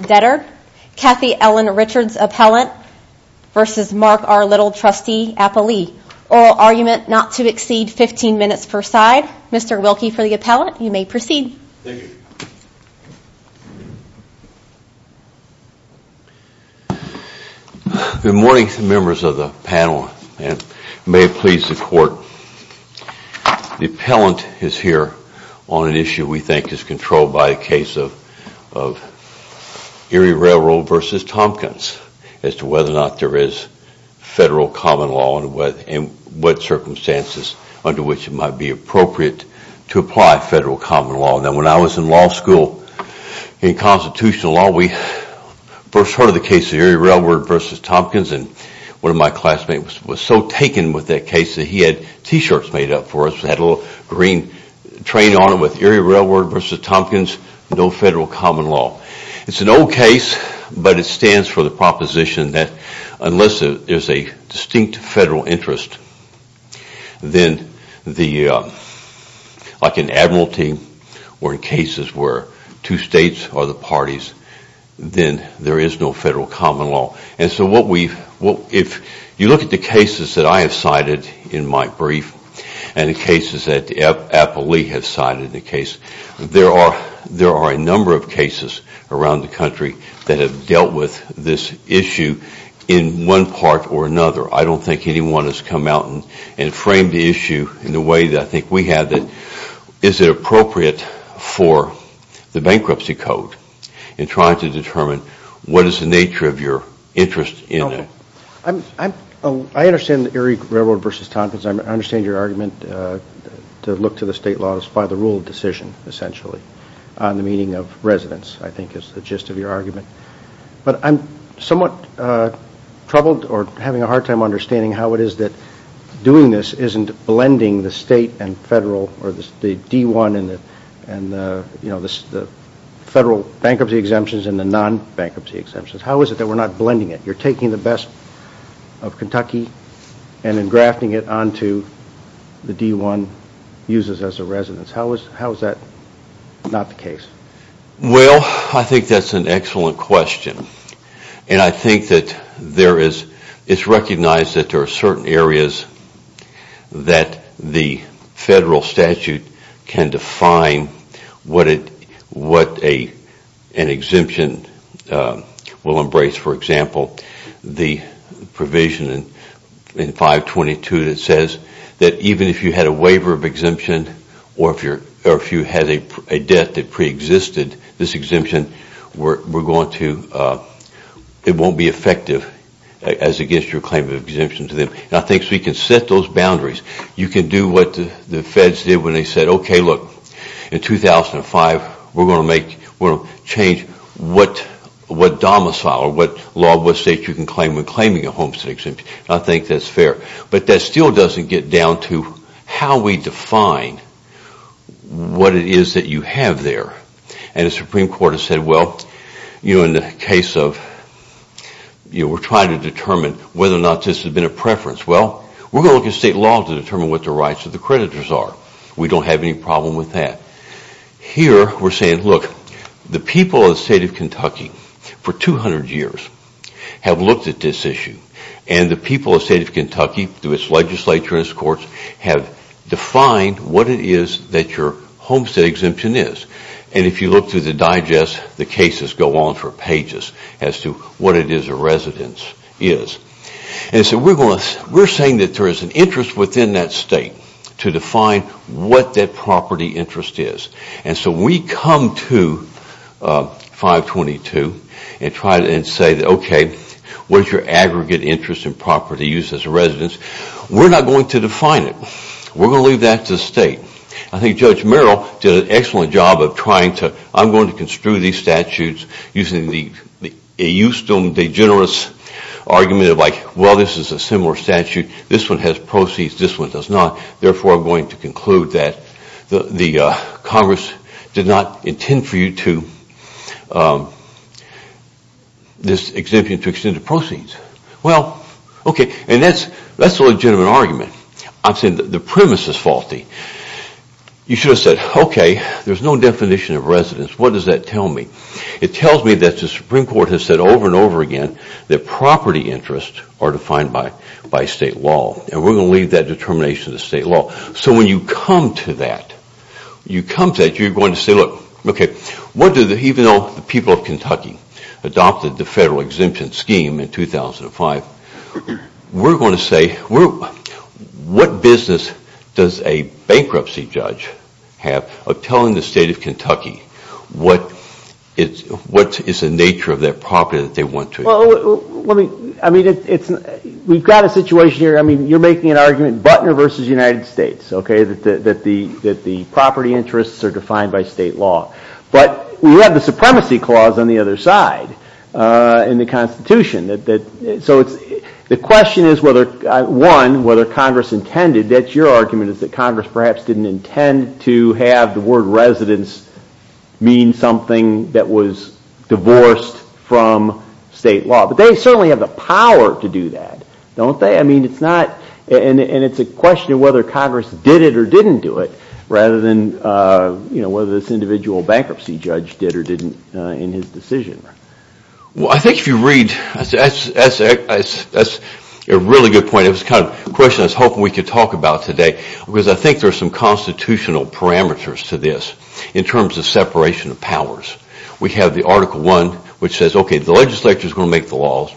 Debtor, Kathy Ellen Richards Appellant, versus Mark R. Little, Trustee Apolli, Oral Argument Not to Exceed 15 Minutes per Side. Mr. Wilkie for the Appellant, you may proceed. Thank you. Good morning members of the panel and may it please the Court, and Mr. Wilkie for the Appellant. The Appellant is here on an issue we think is controlled by a case of Erie Railroad versus Tompkins as to whether or not there is federal common law and what circumstances under which it might be appropriate to apply federal common law. Now when I was in law school, in constitutional law, we first heard of the case of Erie Railroad versus Tompkins and one of my classmates was so taken with that case that he had t-shirts made up for us that had a little green train on it with Erie Railroad versus Tompkins, no federal common law. It's an old case, but it stands for the proposition that unless there is a distinct federal interest, like in Admiralty or in cases where two states are the parties, then there is no federal common law. If you look at the cases that I have cited in my brief and the cases that Appellee has cited in the case, there are a number of cases around the country that have dealt with this issue in one part or another. I don't think anyone has come out and framed the issue in the way that I think we have. Is it appropriate for the bankruptcy code in trying to determine what is the nature of your interest in it? I understand Erie Railroad versus Tompkins. I understand your argument to look to the state laws by the rule of decision, essentially, on the meaning of residence, I think is the gist of your argument. I'm somewhat troubled or having a hard time understanding how it is that doing this isn't blending the state and federal, or the D-1 and the federal bankruptcy exemptions and the non-bankruptcy exemptions. How is it that we're not blending it? You're taking the best of Kentucky and then grafting it onto the D-1 uses as a residence. How is that not the case? Well, I think that's an excellent question. I think that it's recognized that there are certain areas that the federal statute can define what an exemption will embrace. For example, the provision in 522 that says that even if you had a waiver of exemption or if you had a debt that preexisted, this exemption won't be effective as against your claim of exemption. I think we can set those boundaries. You can do what the feds did when they said, okay, look, in 2005, we're going to change what domicile or what law of what state you can claim when claiming a homestead exemption. I think that's fair. But that still doesn't get down to how we define what it is that you have there. And the Supreme Court has said, well, in the case of we're trying to determine whether or not this has been a preference. Well, we're going to look at state law to determine what the rights of the creditors are. We don't have any problem with that. Here, we're saying, look, the people of the state of Kentucky for 200 years have looked at this issue and the people of the state of Kentucky through its legislature and its courts have defined what it is that your homestead exemption is. And if you look through the digest, the cases go on for pages as to what it is a residence is. And so we're saying that there is an interest within that state to define what that property interest is. And so we come to 522 and try to say, okay, what is your aggregate interest in property use as a residence? We're not going to define it. We're going to leave that to the state. I think Judge Merrill did an excellent job of trying to – I'm going to construe these statutes using the eustum degenerates argument of like, well, this is a similar statute. This one has proceeds. This one does not. Therefore, I'm going to conclude that the Congress did not intend for you to – this exemption to extend the proceeds. Well, okay, and that's a legitimate argument. I'm saying the premise is faulty. You should have said, okay, there's no definition of residence. What does that tell me? It tells me that the Supreme Court has said over and over again that property interests are defined by state law and we're going to leave that determination to state law. So when you come to that, you're going to say, look, okay, even though the people of Kentucky adopted the federal exemption scheme in 2005, we're going to say, what business does a bankruptcy judge have of telling the state of Kentucky what is the nature of that property that they want to – Well, I mean, we've got a situation here. I mean, you're making an argument, Buttner versus United States, okay, that the property interests are defined by state law, but we have the supremacy clause on the other side in the Constitution. So the question is, one, whether Congress intended – that's your argument is that Congress perhaps didn't intend to have the word residence mean something that was divorced from state law. But they certainly have the power to do that, don't they? I mean, it's not – and it's a question of whether Congress did it or didn't do it rather than whether this individual bankruptcy judge did or didn't in his decision. Well, I think if you read – that's a really good point. It was the kind of question I was hoping we could talk about today because I think there are some constitutional parameters to this in terms of separation of powers. We have the Article I, which says, okay, the legislature is going to make the laws.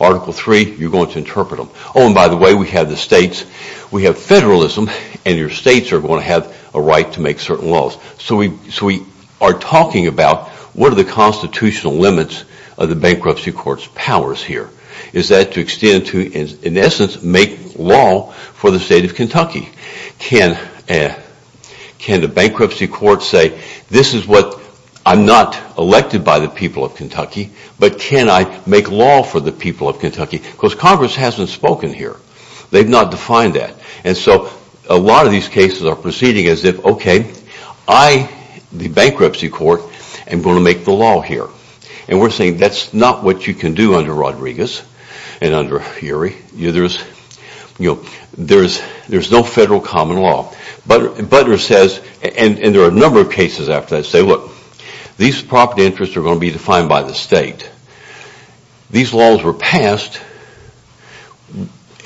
Article III, you're going to interpret them. Oh, and by the way, we have the states – we have federalism, and your states are going to have a right to make certain laws. So we are talking about what are the constitutional limits of the bankruptcy court's powers here. Is that to extend to, in essence, make law for the state of Kentucky? Can the bankruptcy court say, this is what – I'm not elected by the people of Kentucky, but can I make law for the people of Kentucky? Because Congress hasn't spoken here. They've not defined that. And so a lot of these cases are proceeding as if, okay, I, the bankruptcy court, am going to make the law here. And we're saying that's not what you can do under Rodriguez and under Urey. There's no federal common law. Buttner says – and there are a number of cases after that – say, look, these property interests are going to be defined by the state. These laws were passed,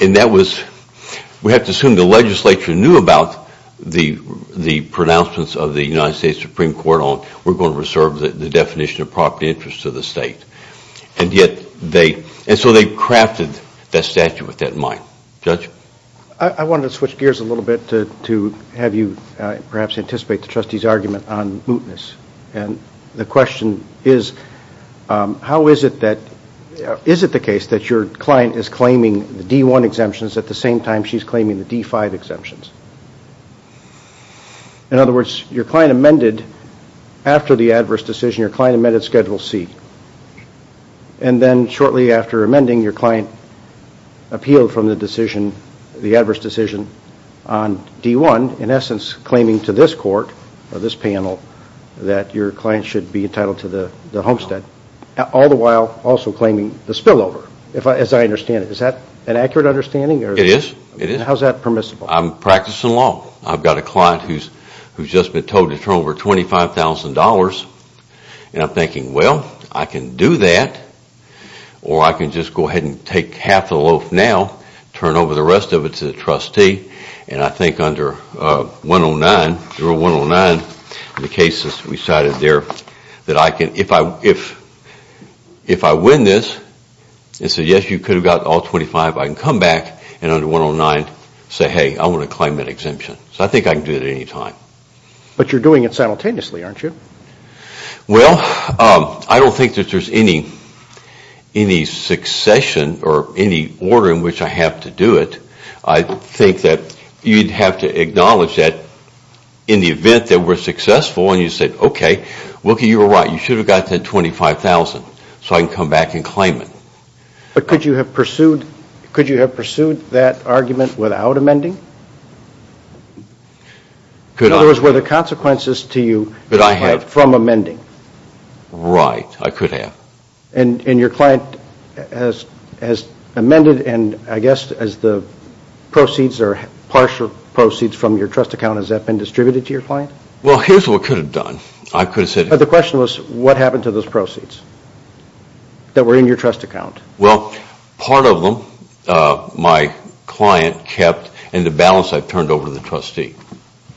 and that was – we have to assume the legislature knew about the pronouncements of the United States Supreme Court on we're going to reserve the definition of property interests to the state. And yet they – and so they crafted that statute with that in mind. Judge? I wanted to switch gears a little bit to have you perhaps anticipate the trustee's argument on mootness. And the question is, how is it that – is it the case that your client is claiming the D1 exemptions at the same time she's claiming the D5 exemptions? In other words, your client amended – after the adverse decision, your client amended Schedule C. And then shortly after amending, your client appealed from the decision – the adverse decision on D1, in essence claiming to this court or this panel that your client should be entitled to the homestead, all the while also claiming the spillover, as I understand it. Is that an accurate understanding? It is. How is that permissible? I'm practicing law. I've got a client who's just been told to turn over $25,000. And I'm thinking, well, I can do that, or I can just go ahead and take half the loaf now, turn over the rest of it to the trustee. And I think under 109, in the cases we cited there, that I can – if I win this and say, yes, you could have got all 25, I can come back and under 109 say, hey, I want to claim that exemption. So I think I can do it at any time. But you're doing it simultaneously, aren't you? Well, I don't think that there's any succession or any order in which I have to do it. I think that you'd have to acknowledge that in the event that we're successful and you said, okay, Wilkie, you were right, you should have gotten that $25,000 so I can come back and claim it. But could you have pursued that argument without amending? In other words, were there consequences to you from amending? Right. I could have. And your client has amended and I guess as the proceeds or partial proceeds from your trust account, has that been distributed to your client? Well, here's what we could have done. I could have said – But the question was, what happened to those proceeds that were in your trust account? Well, part of them my client kept and the balance I turned over to the trustee.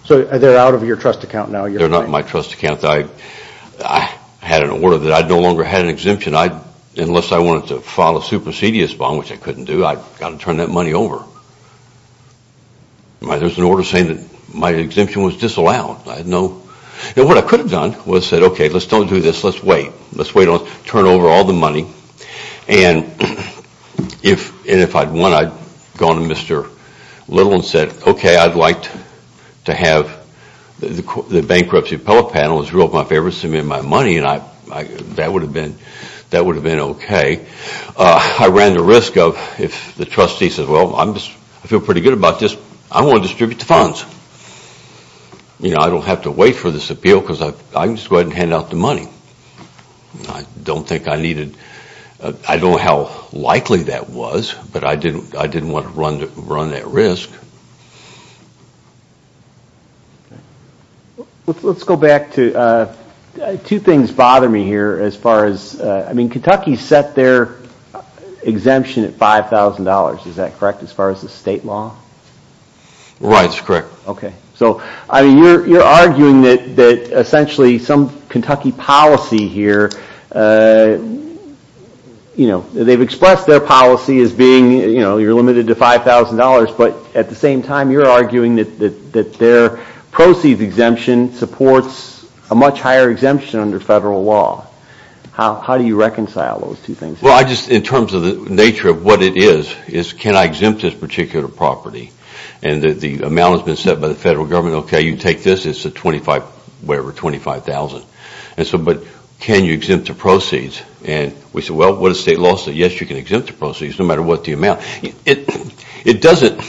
So they're out of your trust account now? They're not in my trust account. I had an order that I no longer had an exemption unless I wanted to file a supersedious bond, which I couldn't do. I've got to turn that money over. There's an order saying that my exemption was disallowed. I had no – And what I could have done was said, okay, let's don't do this, let's wait. Let's wait and turn over all the money. And if I'd won, I'd gone to Mr. Little and said, okay, I'd like to have the bankruptcy appellate panel as my favorites to submit my money and that would have been okay. I ran the risk of if the trustee says, well, I feel pretty good about this, I want to distribute the funds. I don't have to wait for this appeal because I can just go ahead and hand out the money. I don't think I needed – I don't know how likely that was, but I didn't want to run that risk. Let's go back to – two things bother me here as far as – I mean, Kentucky set their exemption at $5,000, is that correct, as far as the state law? Sure. Okay. So, I mean, you're arguing that essentially some Kentucky policy here, you know, they've expressed their policy as being, you know, you're limited to $5,000, but at the same time you're arguing that their proceeds exemption supports a much higher exemption under federal law. How do you reconcile those two things? Well, I just – in terms of the nature of what it is, is can I exempt this particular property? And the amount has been set by the federal government, okay, you take this, it's a $25,000. And so, but can you exempt the proceeds? And we said, well, what does state law say? Yes, you can exempt the proceeds no matter what the amount. It doesn't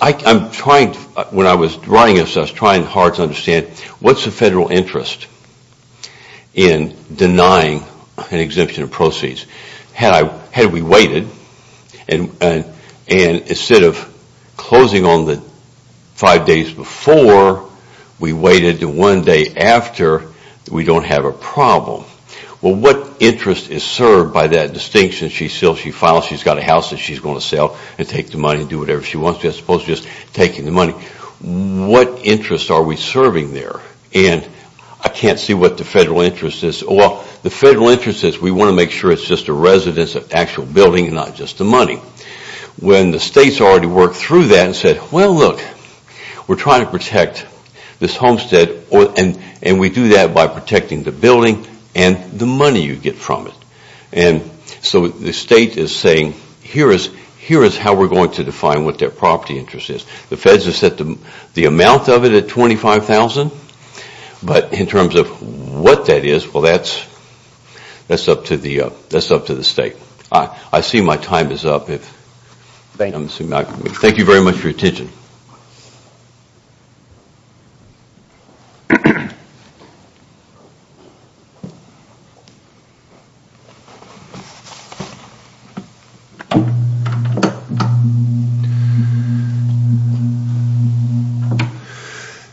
– I'm trying – when I was writing this, I was trying hard to understand what's the federal interest in denying an exemption of proceeds? Had we waited and instead of closing on the five days before, we waited to one day after, we don't have a problem. Well, what interest is served by that distinction? She sells, she files, she's got a house that she's going to sell and take the money and do whatever she wants to as opposed to just taking the money. What interest are we serving there? And I can't see what the federal interest is. Well, the federal interest is we want to make sure it's just a residence, an actual building and not just the money. When the states already worked through that and said, well, look, we're trying to protect this homestead and we do that by protecting the building and the money you get from it. And so the state is saying, here is how we're going to define what their property interest is. The feds have set the amount of it at $25,000, but in terms of what that is, well, that's up to the state. I see my time is up. Thank you very much for your attention.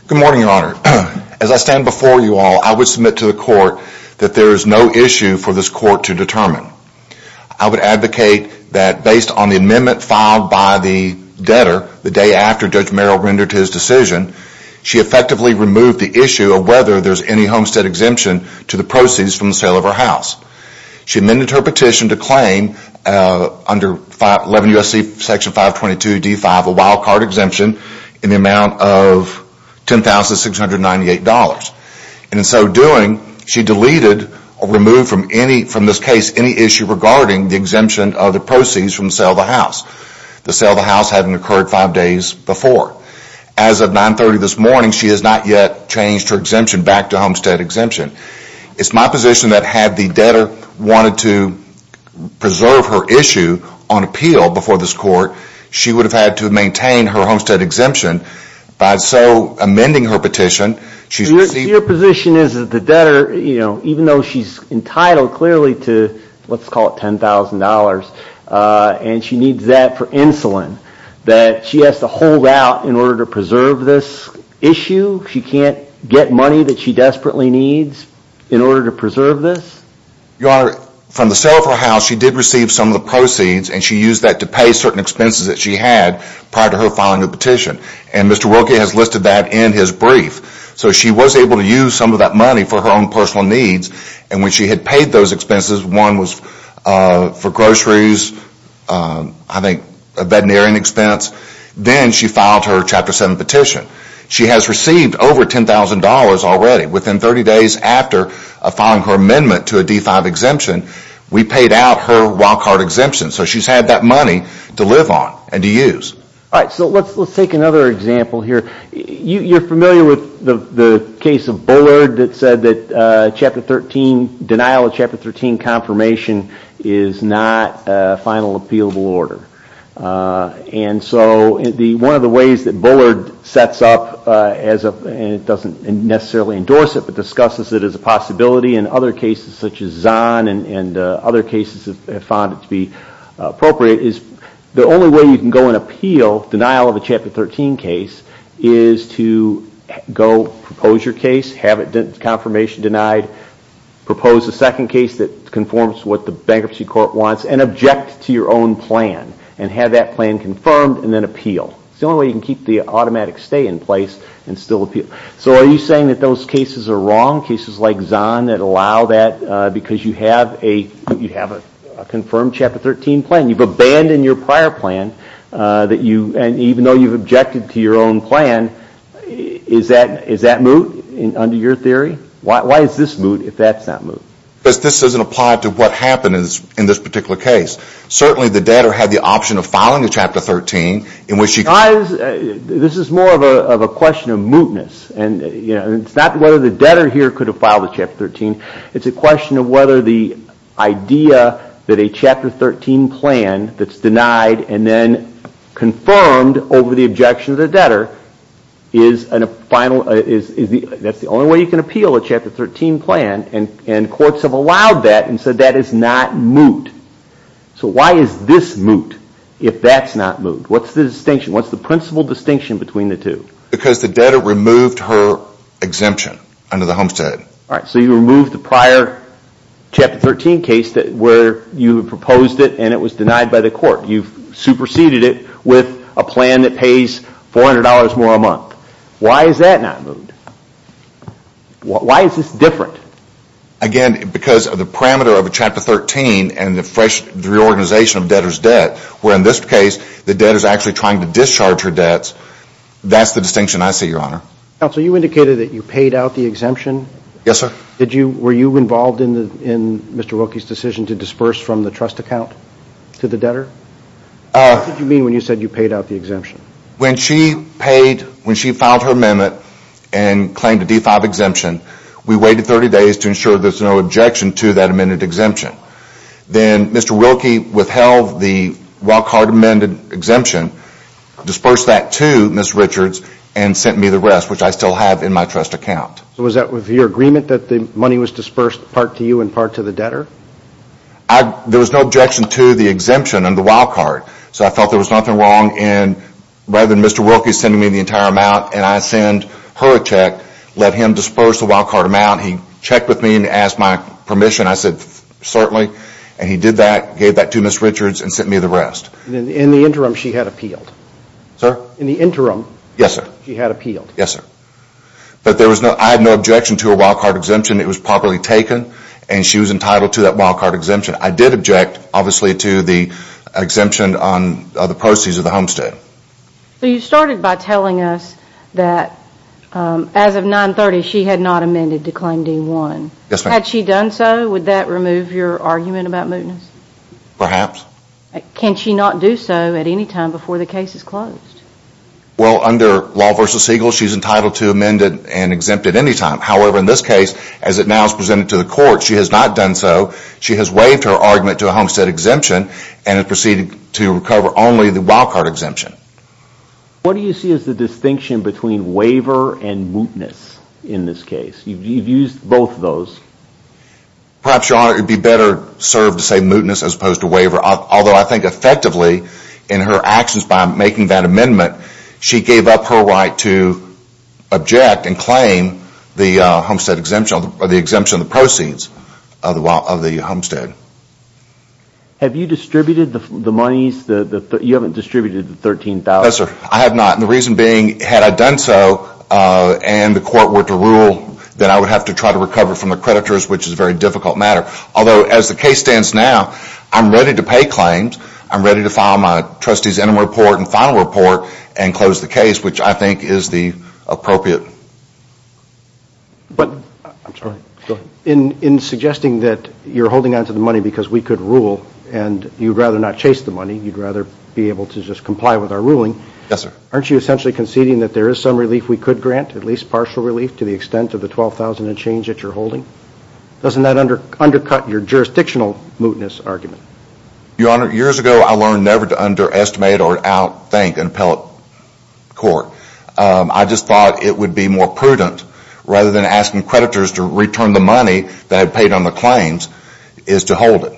Good morning, Your Honor. As I stand before you all, I would submit to the court that there is no issue for this court to determine. I would advocate that based on the amendment filed by the debtor the day after Judge Merrill rendered his decision, she effectively removed the issue of whether there is any homestead exemption to the proceeds from the sale of her house. She amended her petition to claim under 11 U.S.C. section 522 D-5 a wild card exemption in the amount of $10,698. In so doing, she deleted or removed from this case any issue regarding the exemption of the proceeds from the sale of the house, the sale of the house having occurred five days before. As of 930 this morning, she has not yet changed her exemption back to homestead exemption. It's my position that had the debtor wanted to preserve her issue on appeal before this court, she would have had to maintain her homestead exemption. By so amending her petition, she's received... Your position is that the debtor, even though she's entitled clearly to, let's call it $10,000, and she needs that for insulin that she has to hold out in order to preserve this issue? She can't get money that she desperately needs in order to preserve this? Your Honor, from the sale of her house she did receive some of the proceeds and she used that to pay certain expenses that she had prior to her filing a petition. And Mr. Wilkie has listed that in his brief. So she was able to use some of that money for her own personal needs and when she had paid those expenses, one was for groceries, I think a veterinarian expense, then she filed her Chapter 7 petition. She has received over $10,000 already. Within 30 days after filing her amendment to a D-5 exemption, we paid out her wild card exemption. So she's had that money to live on and to use. All right, so let's take another example here. You're familiar with the case of Bullard that said that Chapter 13, denial of Chapter 13 confirmation is not a final appealable order. And so one of the ways that Bullard sets up, and it doesn't necessarily endorse it, but discusses it as a possibility in other cases such as Zahn and other cases have found it to be appropriate, is the only way you can go and appeal denial of a Chapter 13 case is to go propose your case, have it confirmation denied, propose a second case that conforms to what the bankruptcy court wants, and object to your own plan and have that plan confirmed and then appeal. It's the only way you can keep the automatic stay in place and still appeal. So are you saying that those cases are wrong, cases like Zahn, that allow that because you have a confirmed Chapter 13 plan? You've abandoned your prior plan, and even though you've objected to your own plan, is that moot under your theory? Why is this moot if that's not moot? Because this doesn't apply to what happened in this particular case. Certainly the debtor had the option of filing a Chapter 13 in which he could. This is more of a question of mootness. It's not whether the debtor here could have filed a Chapter 13. It's a question of whether the idea that a Chapter 13 plan that's denied and then confirmed over the objection of the debtor, that's the only way you can appeal a Chapter 13 plan, and courts have allowed that and said that is not moot. So why is this moot if that's not moot? What's the distinction? What's the principal distinction between the two? Because the debtor removed her exemption under the Homestead. All right, so you removed the prior Chapter 13 case where you proposed it and it was denied by the court. You've superseded it with a plan that pays $400 more a month. Why is that not moot? Why is this different? Again, because of the parameter of a Chapter 13 and the reorganization of debtor's debt, where in this case the debtor's actually trying to discharge her debts, that's the distinction I see, Your Honor. Counsel, you indicated that you paid out the exemption. Yes, sir. Were you involved in Mr. Wilkie's decision to disperse from the trust account to the debtor? What did you mean when you said you paid out the exemption? When she paid, when she filed her amendment and claimed a D-5 exemption, we waited 30 days to ensure there's no objection to that amended exemption. Then Mr. Wilkie withheld the Wildcard amended exemption, dispersed that to Ms. Richards and sent me the rest, which I still have in my trust account. Was that with your agreement that the money was dispersed part to you and part to the debtor? There was no objection to the exemption and the Wildcard, so I felt there was nothing wrong in rather than Mr. Wilkie sending me the entire amount and I send her a check, let him disperse the Wildcard amount. He checked with me and asked my permission. I said, certainly, and he did that, gave that to Ms. Richards and sent me the rest. In the interim, she had appealed? Sir? In the interim, she had appealed? Yes, sir. But I had no objection to a Wildcard exemption. It was properly taken and she was entitled to that Wildcard exemption. I did object, obviously, to the exemption on the proceeds of the homestead. You started by telling us that as of 930, she had not amended to claim D-1. Yes, ma'am. Had she done so, would that remove your argument about mootness? Perhaps. Can she not do so at any time before the case is closed? Well, under law v. Siegel, she's entitled to amend it and exempt it any time. However, in this case, as it now is presented to the court, she has not done so. She has waived her argument to a homestead exemption and has proceeded to recover only the Wildcard exemption. What do you see as the distinction between waiver and mootness in this case? You've used both of those. Perhaps, Your Honor, it would be better served to say mootness as opposed to waiver, although I think effectively in her actions by making that amendment, she gave up her right to object and claim the homestead exemption or the exemption on the proceeds of the homestead. Have you distributed the monies? You haven't distributed the $13,000. No, sir. I have not. The reason being, had I done so and the court were to rule that I would have to try to recover from the creditors, which is a very difficult matter. Although, as the case stands now, I'm ready to pay claims. I'm ready to file my trustee's interim report and final report and close the case, which I think is the appropriate. But in suggesting that you're holding on to the money because we could rule and you'd rather not chase the money, you'd rather be able to just comply with our ruling, aren't you essentially conceding that there is some relief we could grant, at least partial relief to the extent of the $12,000 and change that you're holding? Doesn't that undercut your jurisdictional mootness argument? Your Honor, years ago I learned never to underestimate or out-think an appellate court. I just thought it would be more prudent, rather than asking creditors to return the money that I paid on the claims, is to hold it.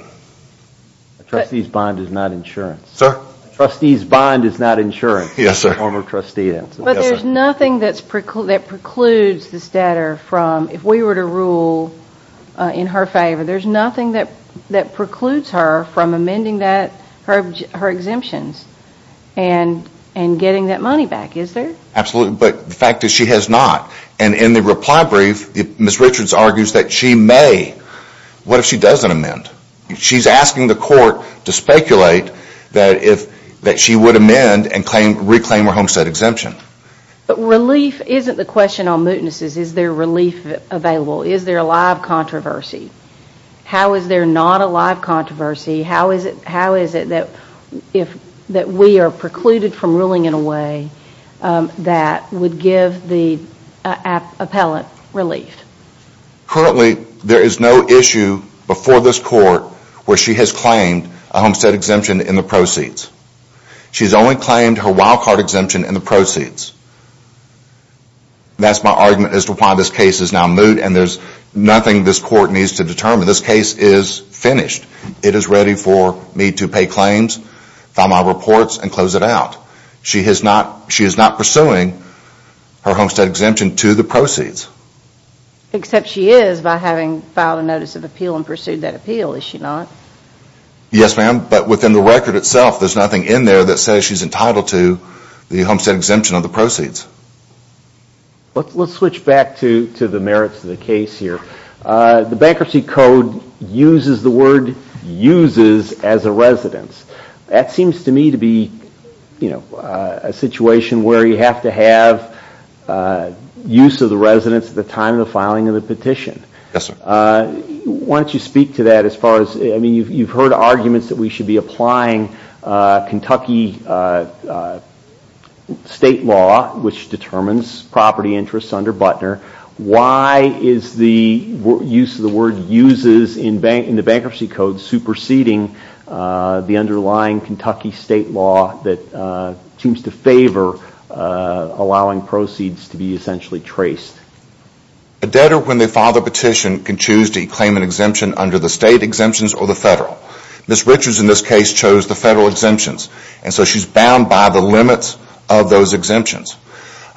A trustee's bond is not insurance. Sir? A trustee's bond is not insurance. Yes, sir. But there's nothing that precludes this debtor from, if we were to rule in her favor, there's nothing that precludes her from amending her exemptions and getting that money back, is there? Absolutely, but the fact is she has not. And in the reply brief, Ms. Richards argues that she may. What if she doesn't amend? She's asking the court to speculate that she would amend and reclaim her homestead exemption. But relief isn't the question on mootnesses. Is there relief available? Is there a live controversy? How is there not a live controversy? How is it that we are precluded from ruling in a way that would give the appellate relief? Currently, there is no issue before this court where she has claimed a homestead exemption in the proceeds. She's only claimed her wildcard exemption in the proceeds. That's my argument as to why this case is now moot and there's nothing this court needs to determine. This case is finished. It is ready for me to pay claims, file my reports, and close it out. She is not pursuing her homestead exemption to the proceeds. Except she is by having filed a notice of appeal and pursued that appeal, is she not? Yes, ma'am, but within the record itself, there's nothing in there that says she's entitled to the homestead exemption of the proceeds. Let's switch back to the merits of the case here. The Bankruptcy Code uses the word uses as a residence. That seems to me to be a situation where you have to have use of the residence at the time of the filing of the petition. Yes, sir. Why don't you speak to that? You've heard arguments that we should be applying Kentucky state law, which determines property interests under Butner. Why is the use of the word uses in the Bankruptcy Code superseding the underlying Kentucky state law that seems to favor allowing proceeds to be essentially traced? A debtor, when they file the petition, can choose to claim an exemption under the state exemptions or the federal. Ms. Richards, in this case, chose the federal exemptions, and so she's bound by the limits of those exemptions.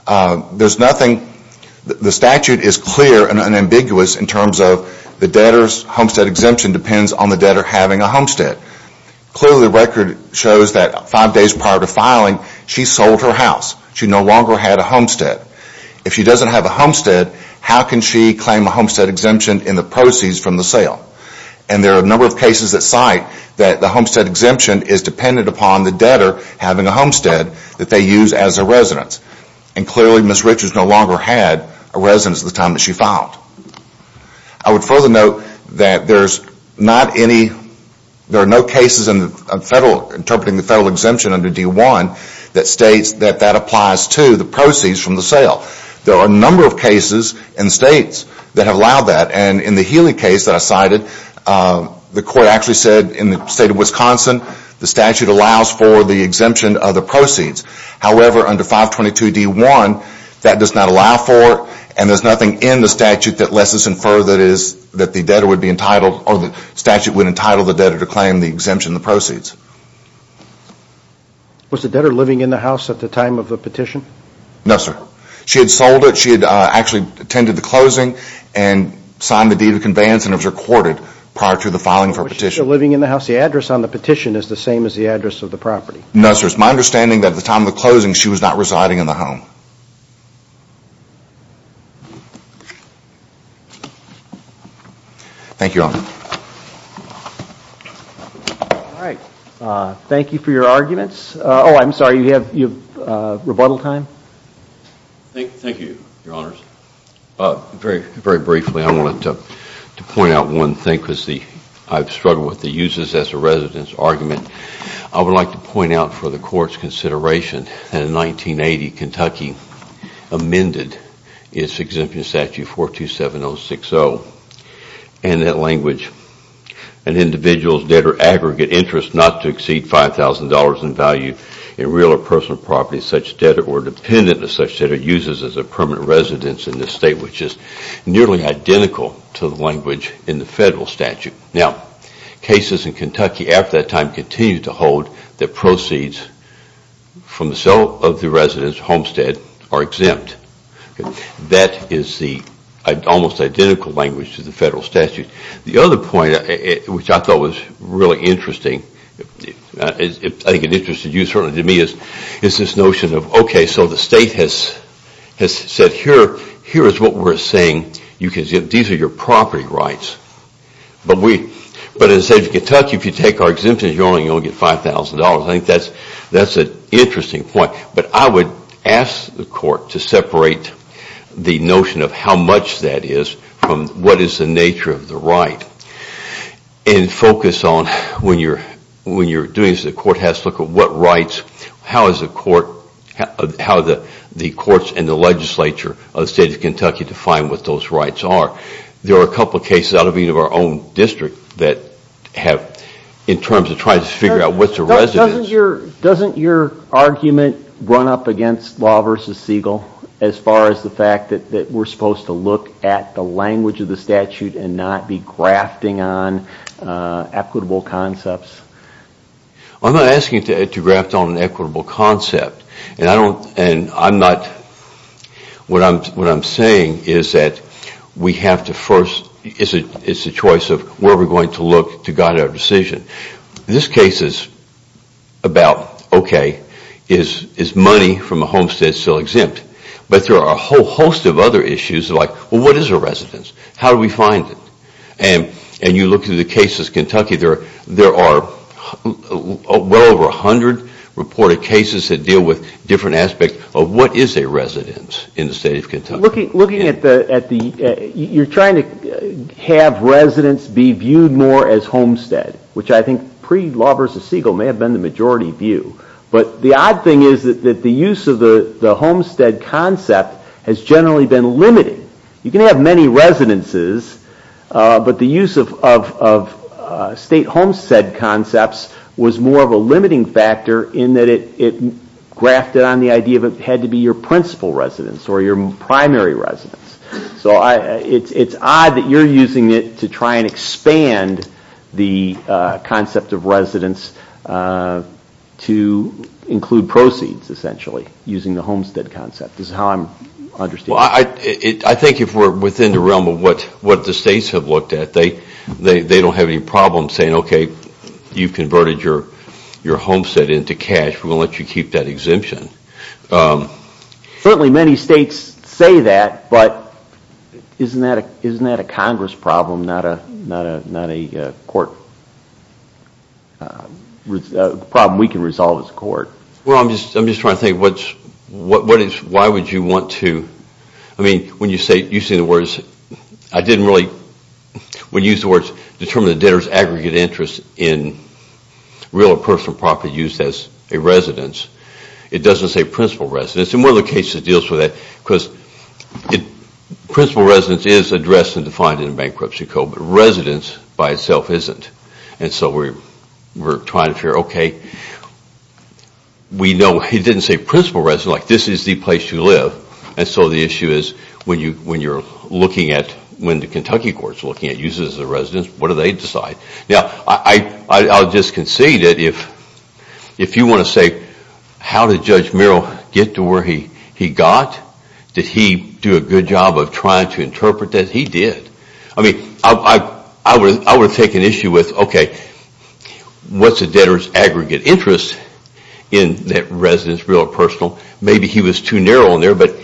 The statute is clear and unambiguous in terms of the debtor's homestead exemption depends on the debtor having a homestead. Clearly, the record shows that five days prior to filing, she sold her house. She no longer had a homestead. If she doesn't have a homestead, how can she claim a homestead exemption in the proceeds from the sale? There are a number of cases that cite that the homestead exemption is dependent upon the debtor having a homestead that they use as a residence. Clearly, Ms. Richards no longer had a residence at the time that she filed. I would further note that there are no cases interpreting the federal exemption under D-1 that states that that applies to the proceeds from the sale. There are a number of cases and states that have allowed that, and in the Healy case that I cited, the court actually said in the state of Wisconsin, the statute allows for the exemption of the proceeds. However, under 522D-1, that does not allow for it, and there's nothing in the statute that lets us infer that the debtor would be entitled or the statute would entitle the debtor to claim the exemption in the proceeds. Was the debtor living in the house at the time of the petition? No, sir. She had sold it. She had actually attended the closing and signed the deed of conveyance, and it was recorded prior to the filing of her petition. Was she still living in the house? The address on the petition is the same as the address of the property. No, sir. It's my understanding that at the time of the closing, she was not residing in the home. Thank you, Your Honor. All right. Thank you for your arguments. Oh, I'm sorry. You have rebuttal time? Thank you, Your Honors. Very briefly, I wanted to point out one thing because I've struggled with the uses as a resident's argument. I would like to point out for the Court's consideration that in 1980, Kentucky amended its exemption statute 427060 and that language, an individual's debtor aggregate interest not to exceed $5,000 in value in real or personal property such debtor or dependent of such debtor uses as a permanent residence in the state, which is nearly identical to the language in the federal statute. Now, cases in Kentucky after that time continue to hold that proceeds from the sale of the resident's homestead are exempt. That is the almost identical language to the federal statute. The other point, which I thought was really interesting, I think it interested you, certainly to me, is this notion of, okay, so the state has said here is what we're saying. These are your property rights. But as I said, in Kentucky, if you take our exemptions, you're only going to get $5,000. I think that's an interesting point. But I would ask the Court to separate the notion of how much that is from what is the nature of the right and focus on when you're doing this, the Court has to look at what rights, how the courts and the legislature of the state of Kentucky define what those rights are. There are a couple of cases out of our own district that have, in terms of trying to figure out what's a resident's Doesn't your argument run up against Law v. Siegel as far as the fact that we're supposed to look at the language of the statute and not be grafting on equitable concepts? I'm not asking to graft on an equitable concept. What I'm saying is that we have to first, it's a choice of where we're going to look to guide our decision. This case is about, okay, is money from a homestead still exempt? But there are a whole host of other issues like, well, what is a residence? How do we find it? And you look through the cases in Kentucky, there are well over 100 reported cases that deal with different aspects of what is a residence in the state of Kentucky. Looking at the, you're trying to have residents be viewed more as homestead, which I think pre-Law v. Siegel may have been the majority view. But the odd thing is that the use of the homestead concept has generally been limited. You can have many residences, but the use of state homestead concepts was more of a limiting factor in that it grafted on the idea that it had to be your principal residence or your primary residence. So it's odd that you're using it to try and expand the concept of residence to include proceeds, essentially, using the homestead concept is how I'm understanding it. Well, I think if we're within the realm of what the states have looked at, they don't have any problem saying, okay, you've converted your homestead into cash, we're going to let you keep that exemption. Certainly many states say that, but isn't that a Congress problem, not a court problem we can resolve as a court? Well, I'm just trying to think, why would you want to, I mean, when you say, you say the words, I didn't really, when you use the words, determine the debtor's aggregate interest in real or personal property used as a residence, it doesn't say principal residence. And one of the cases that deals with that, because principal residence is addressed and defined in a bankruptcy code, but residence by itself isn't. And so we're trying to figure, okay, we know it didn't say principal residence, like this is the place you live. And so the issue is when you're looking at, when the Kentucky court is looking at uses as a residence, what do they decide? Now, I'll just concede that if you want to say, how did Judge Merrill get to where he got? Did he do a good job of trying to interpret that? He did. I mean, I would take an issue with, okay, what's a debtor's aggregate interest in that residence, real or personal? Maybe he was too narrow in there, but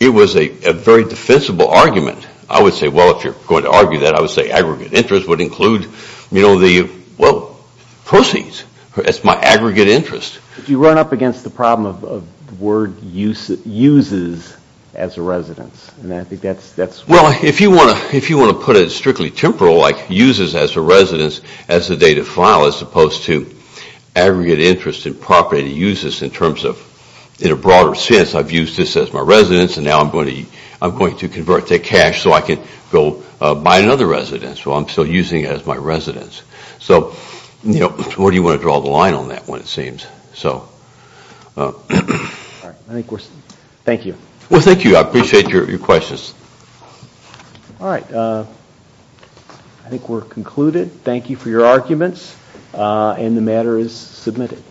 it was a very defensible argument. I would say, well, if you're going to argue that, I would say aggregate interest would include, you know, the, well, proceeds. That's my aggregate interest. You run up against the problem of the word uses as a residence, and I think that's. Well, if you want to put it strictly temporal, like uses as a residence as the date of file, as opposed to aggregate interest in property uses in terms of, in a broader sense, I've used this as my residence, and now I'm going to convert that cash so I can go buy another residence. Well, I'm still using it as my residence. So, you know, where do you want to draw the line on that one, it seems? Thank you. Well, thank you. I appreciate your questions. All right. I think we're concluded. Thank you for your arguments, and the matter is submitted.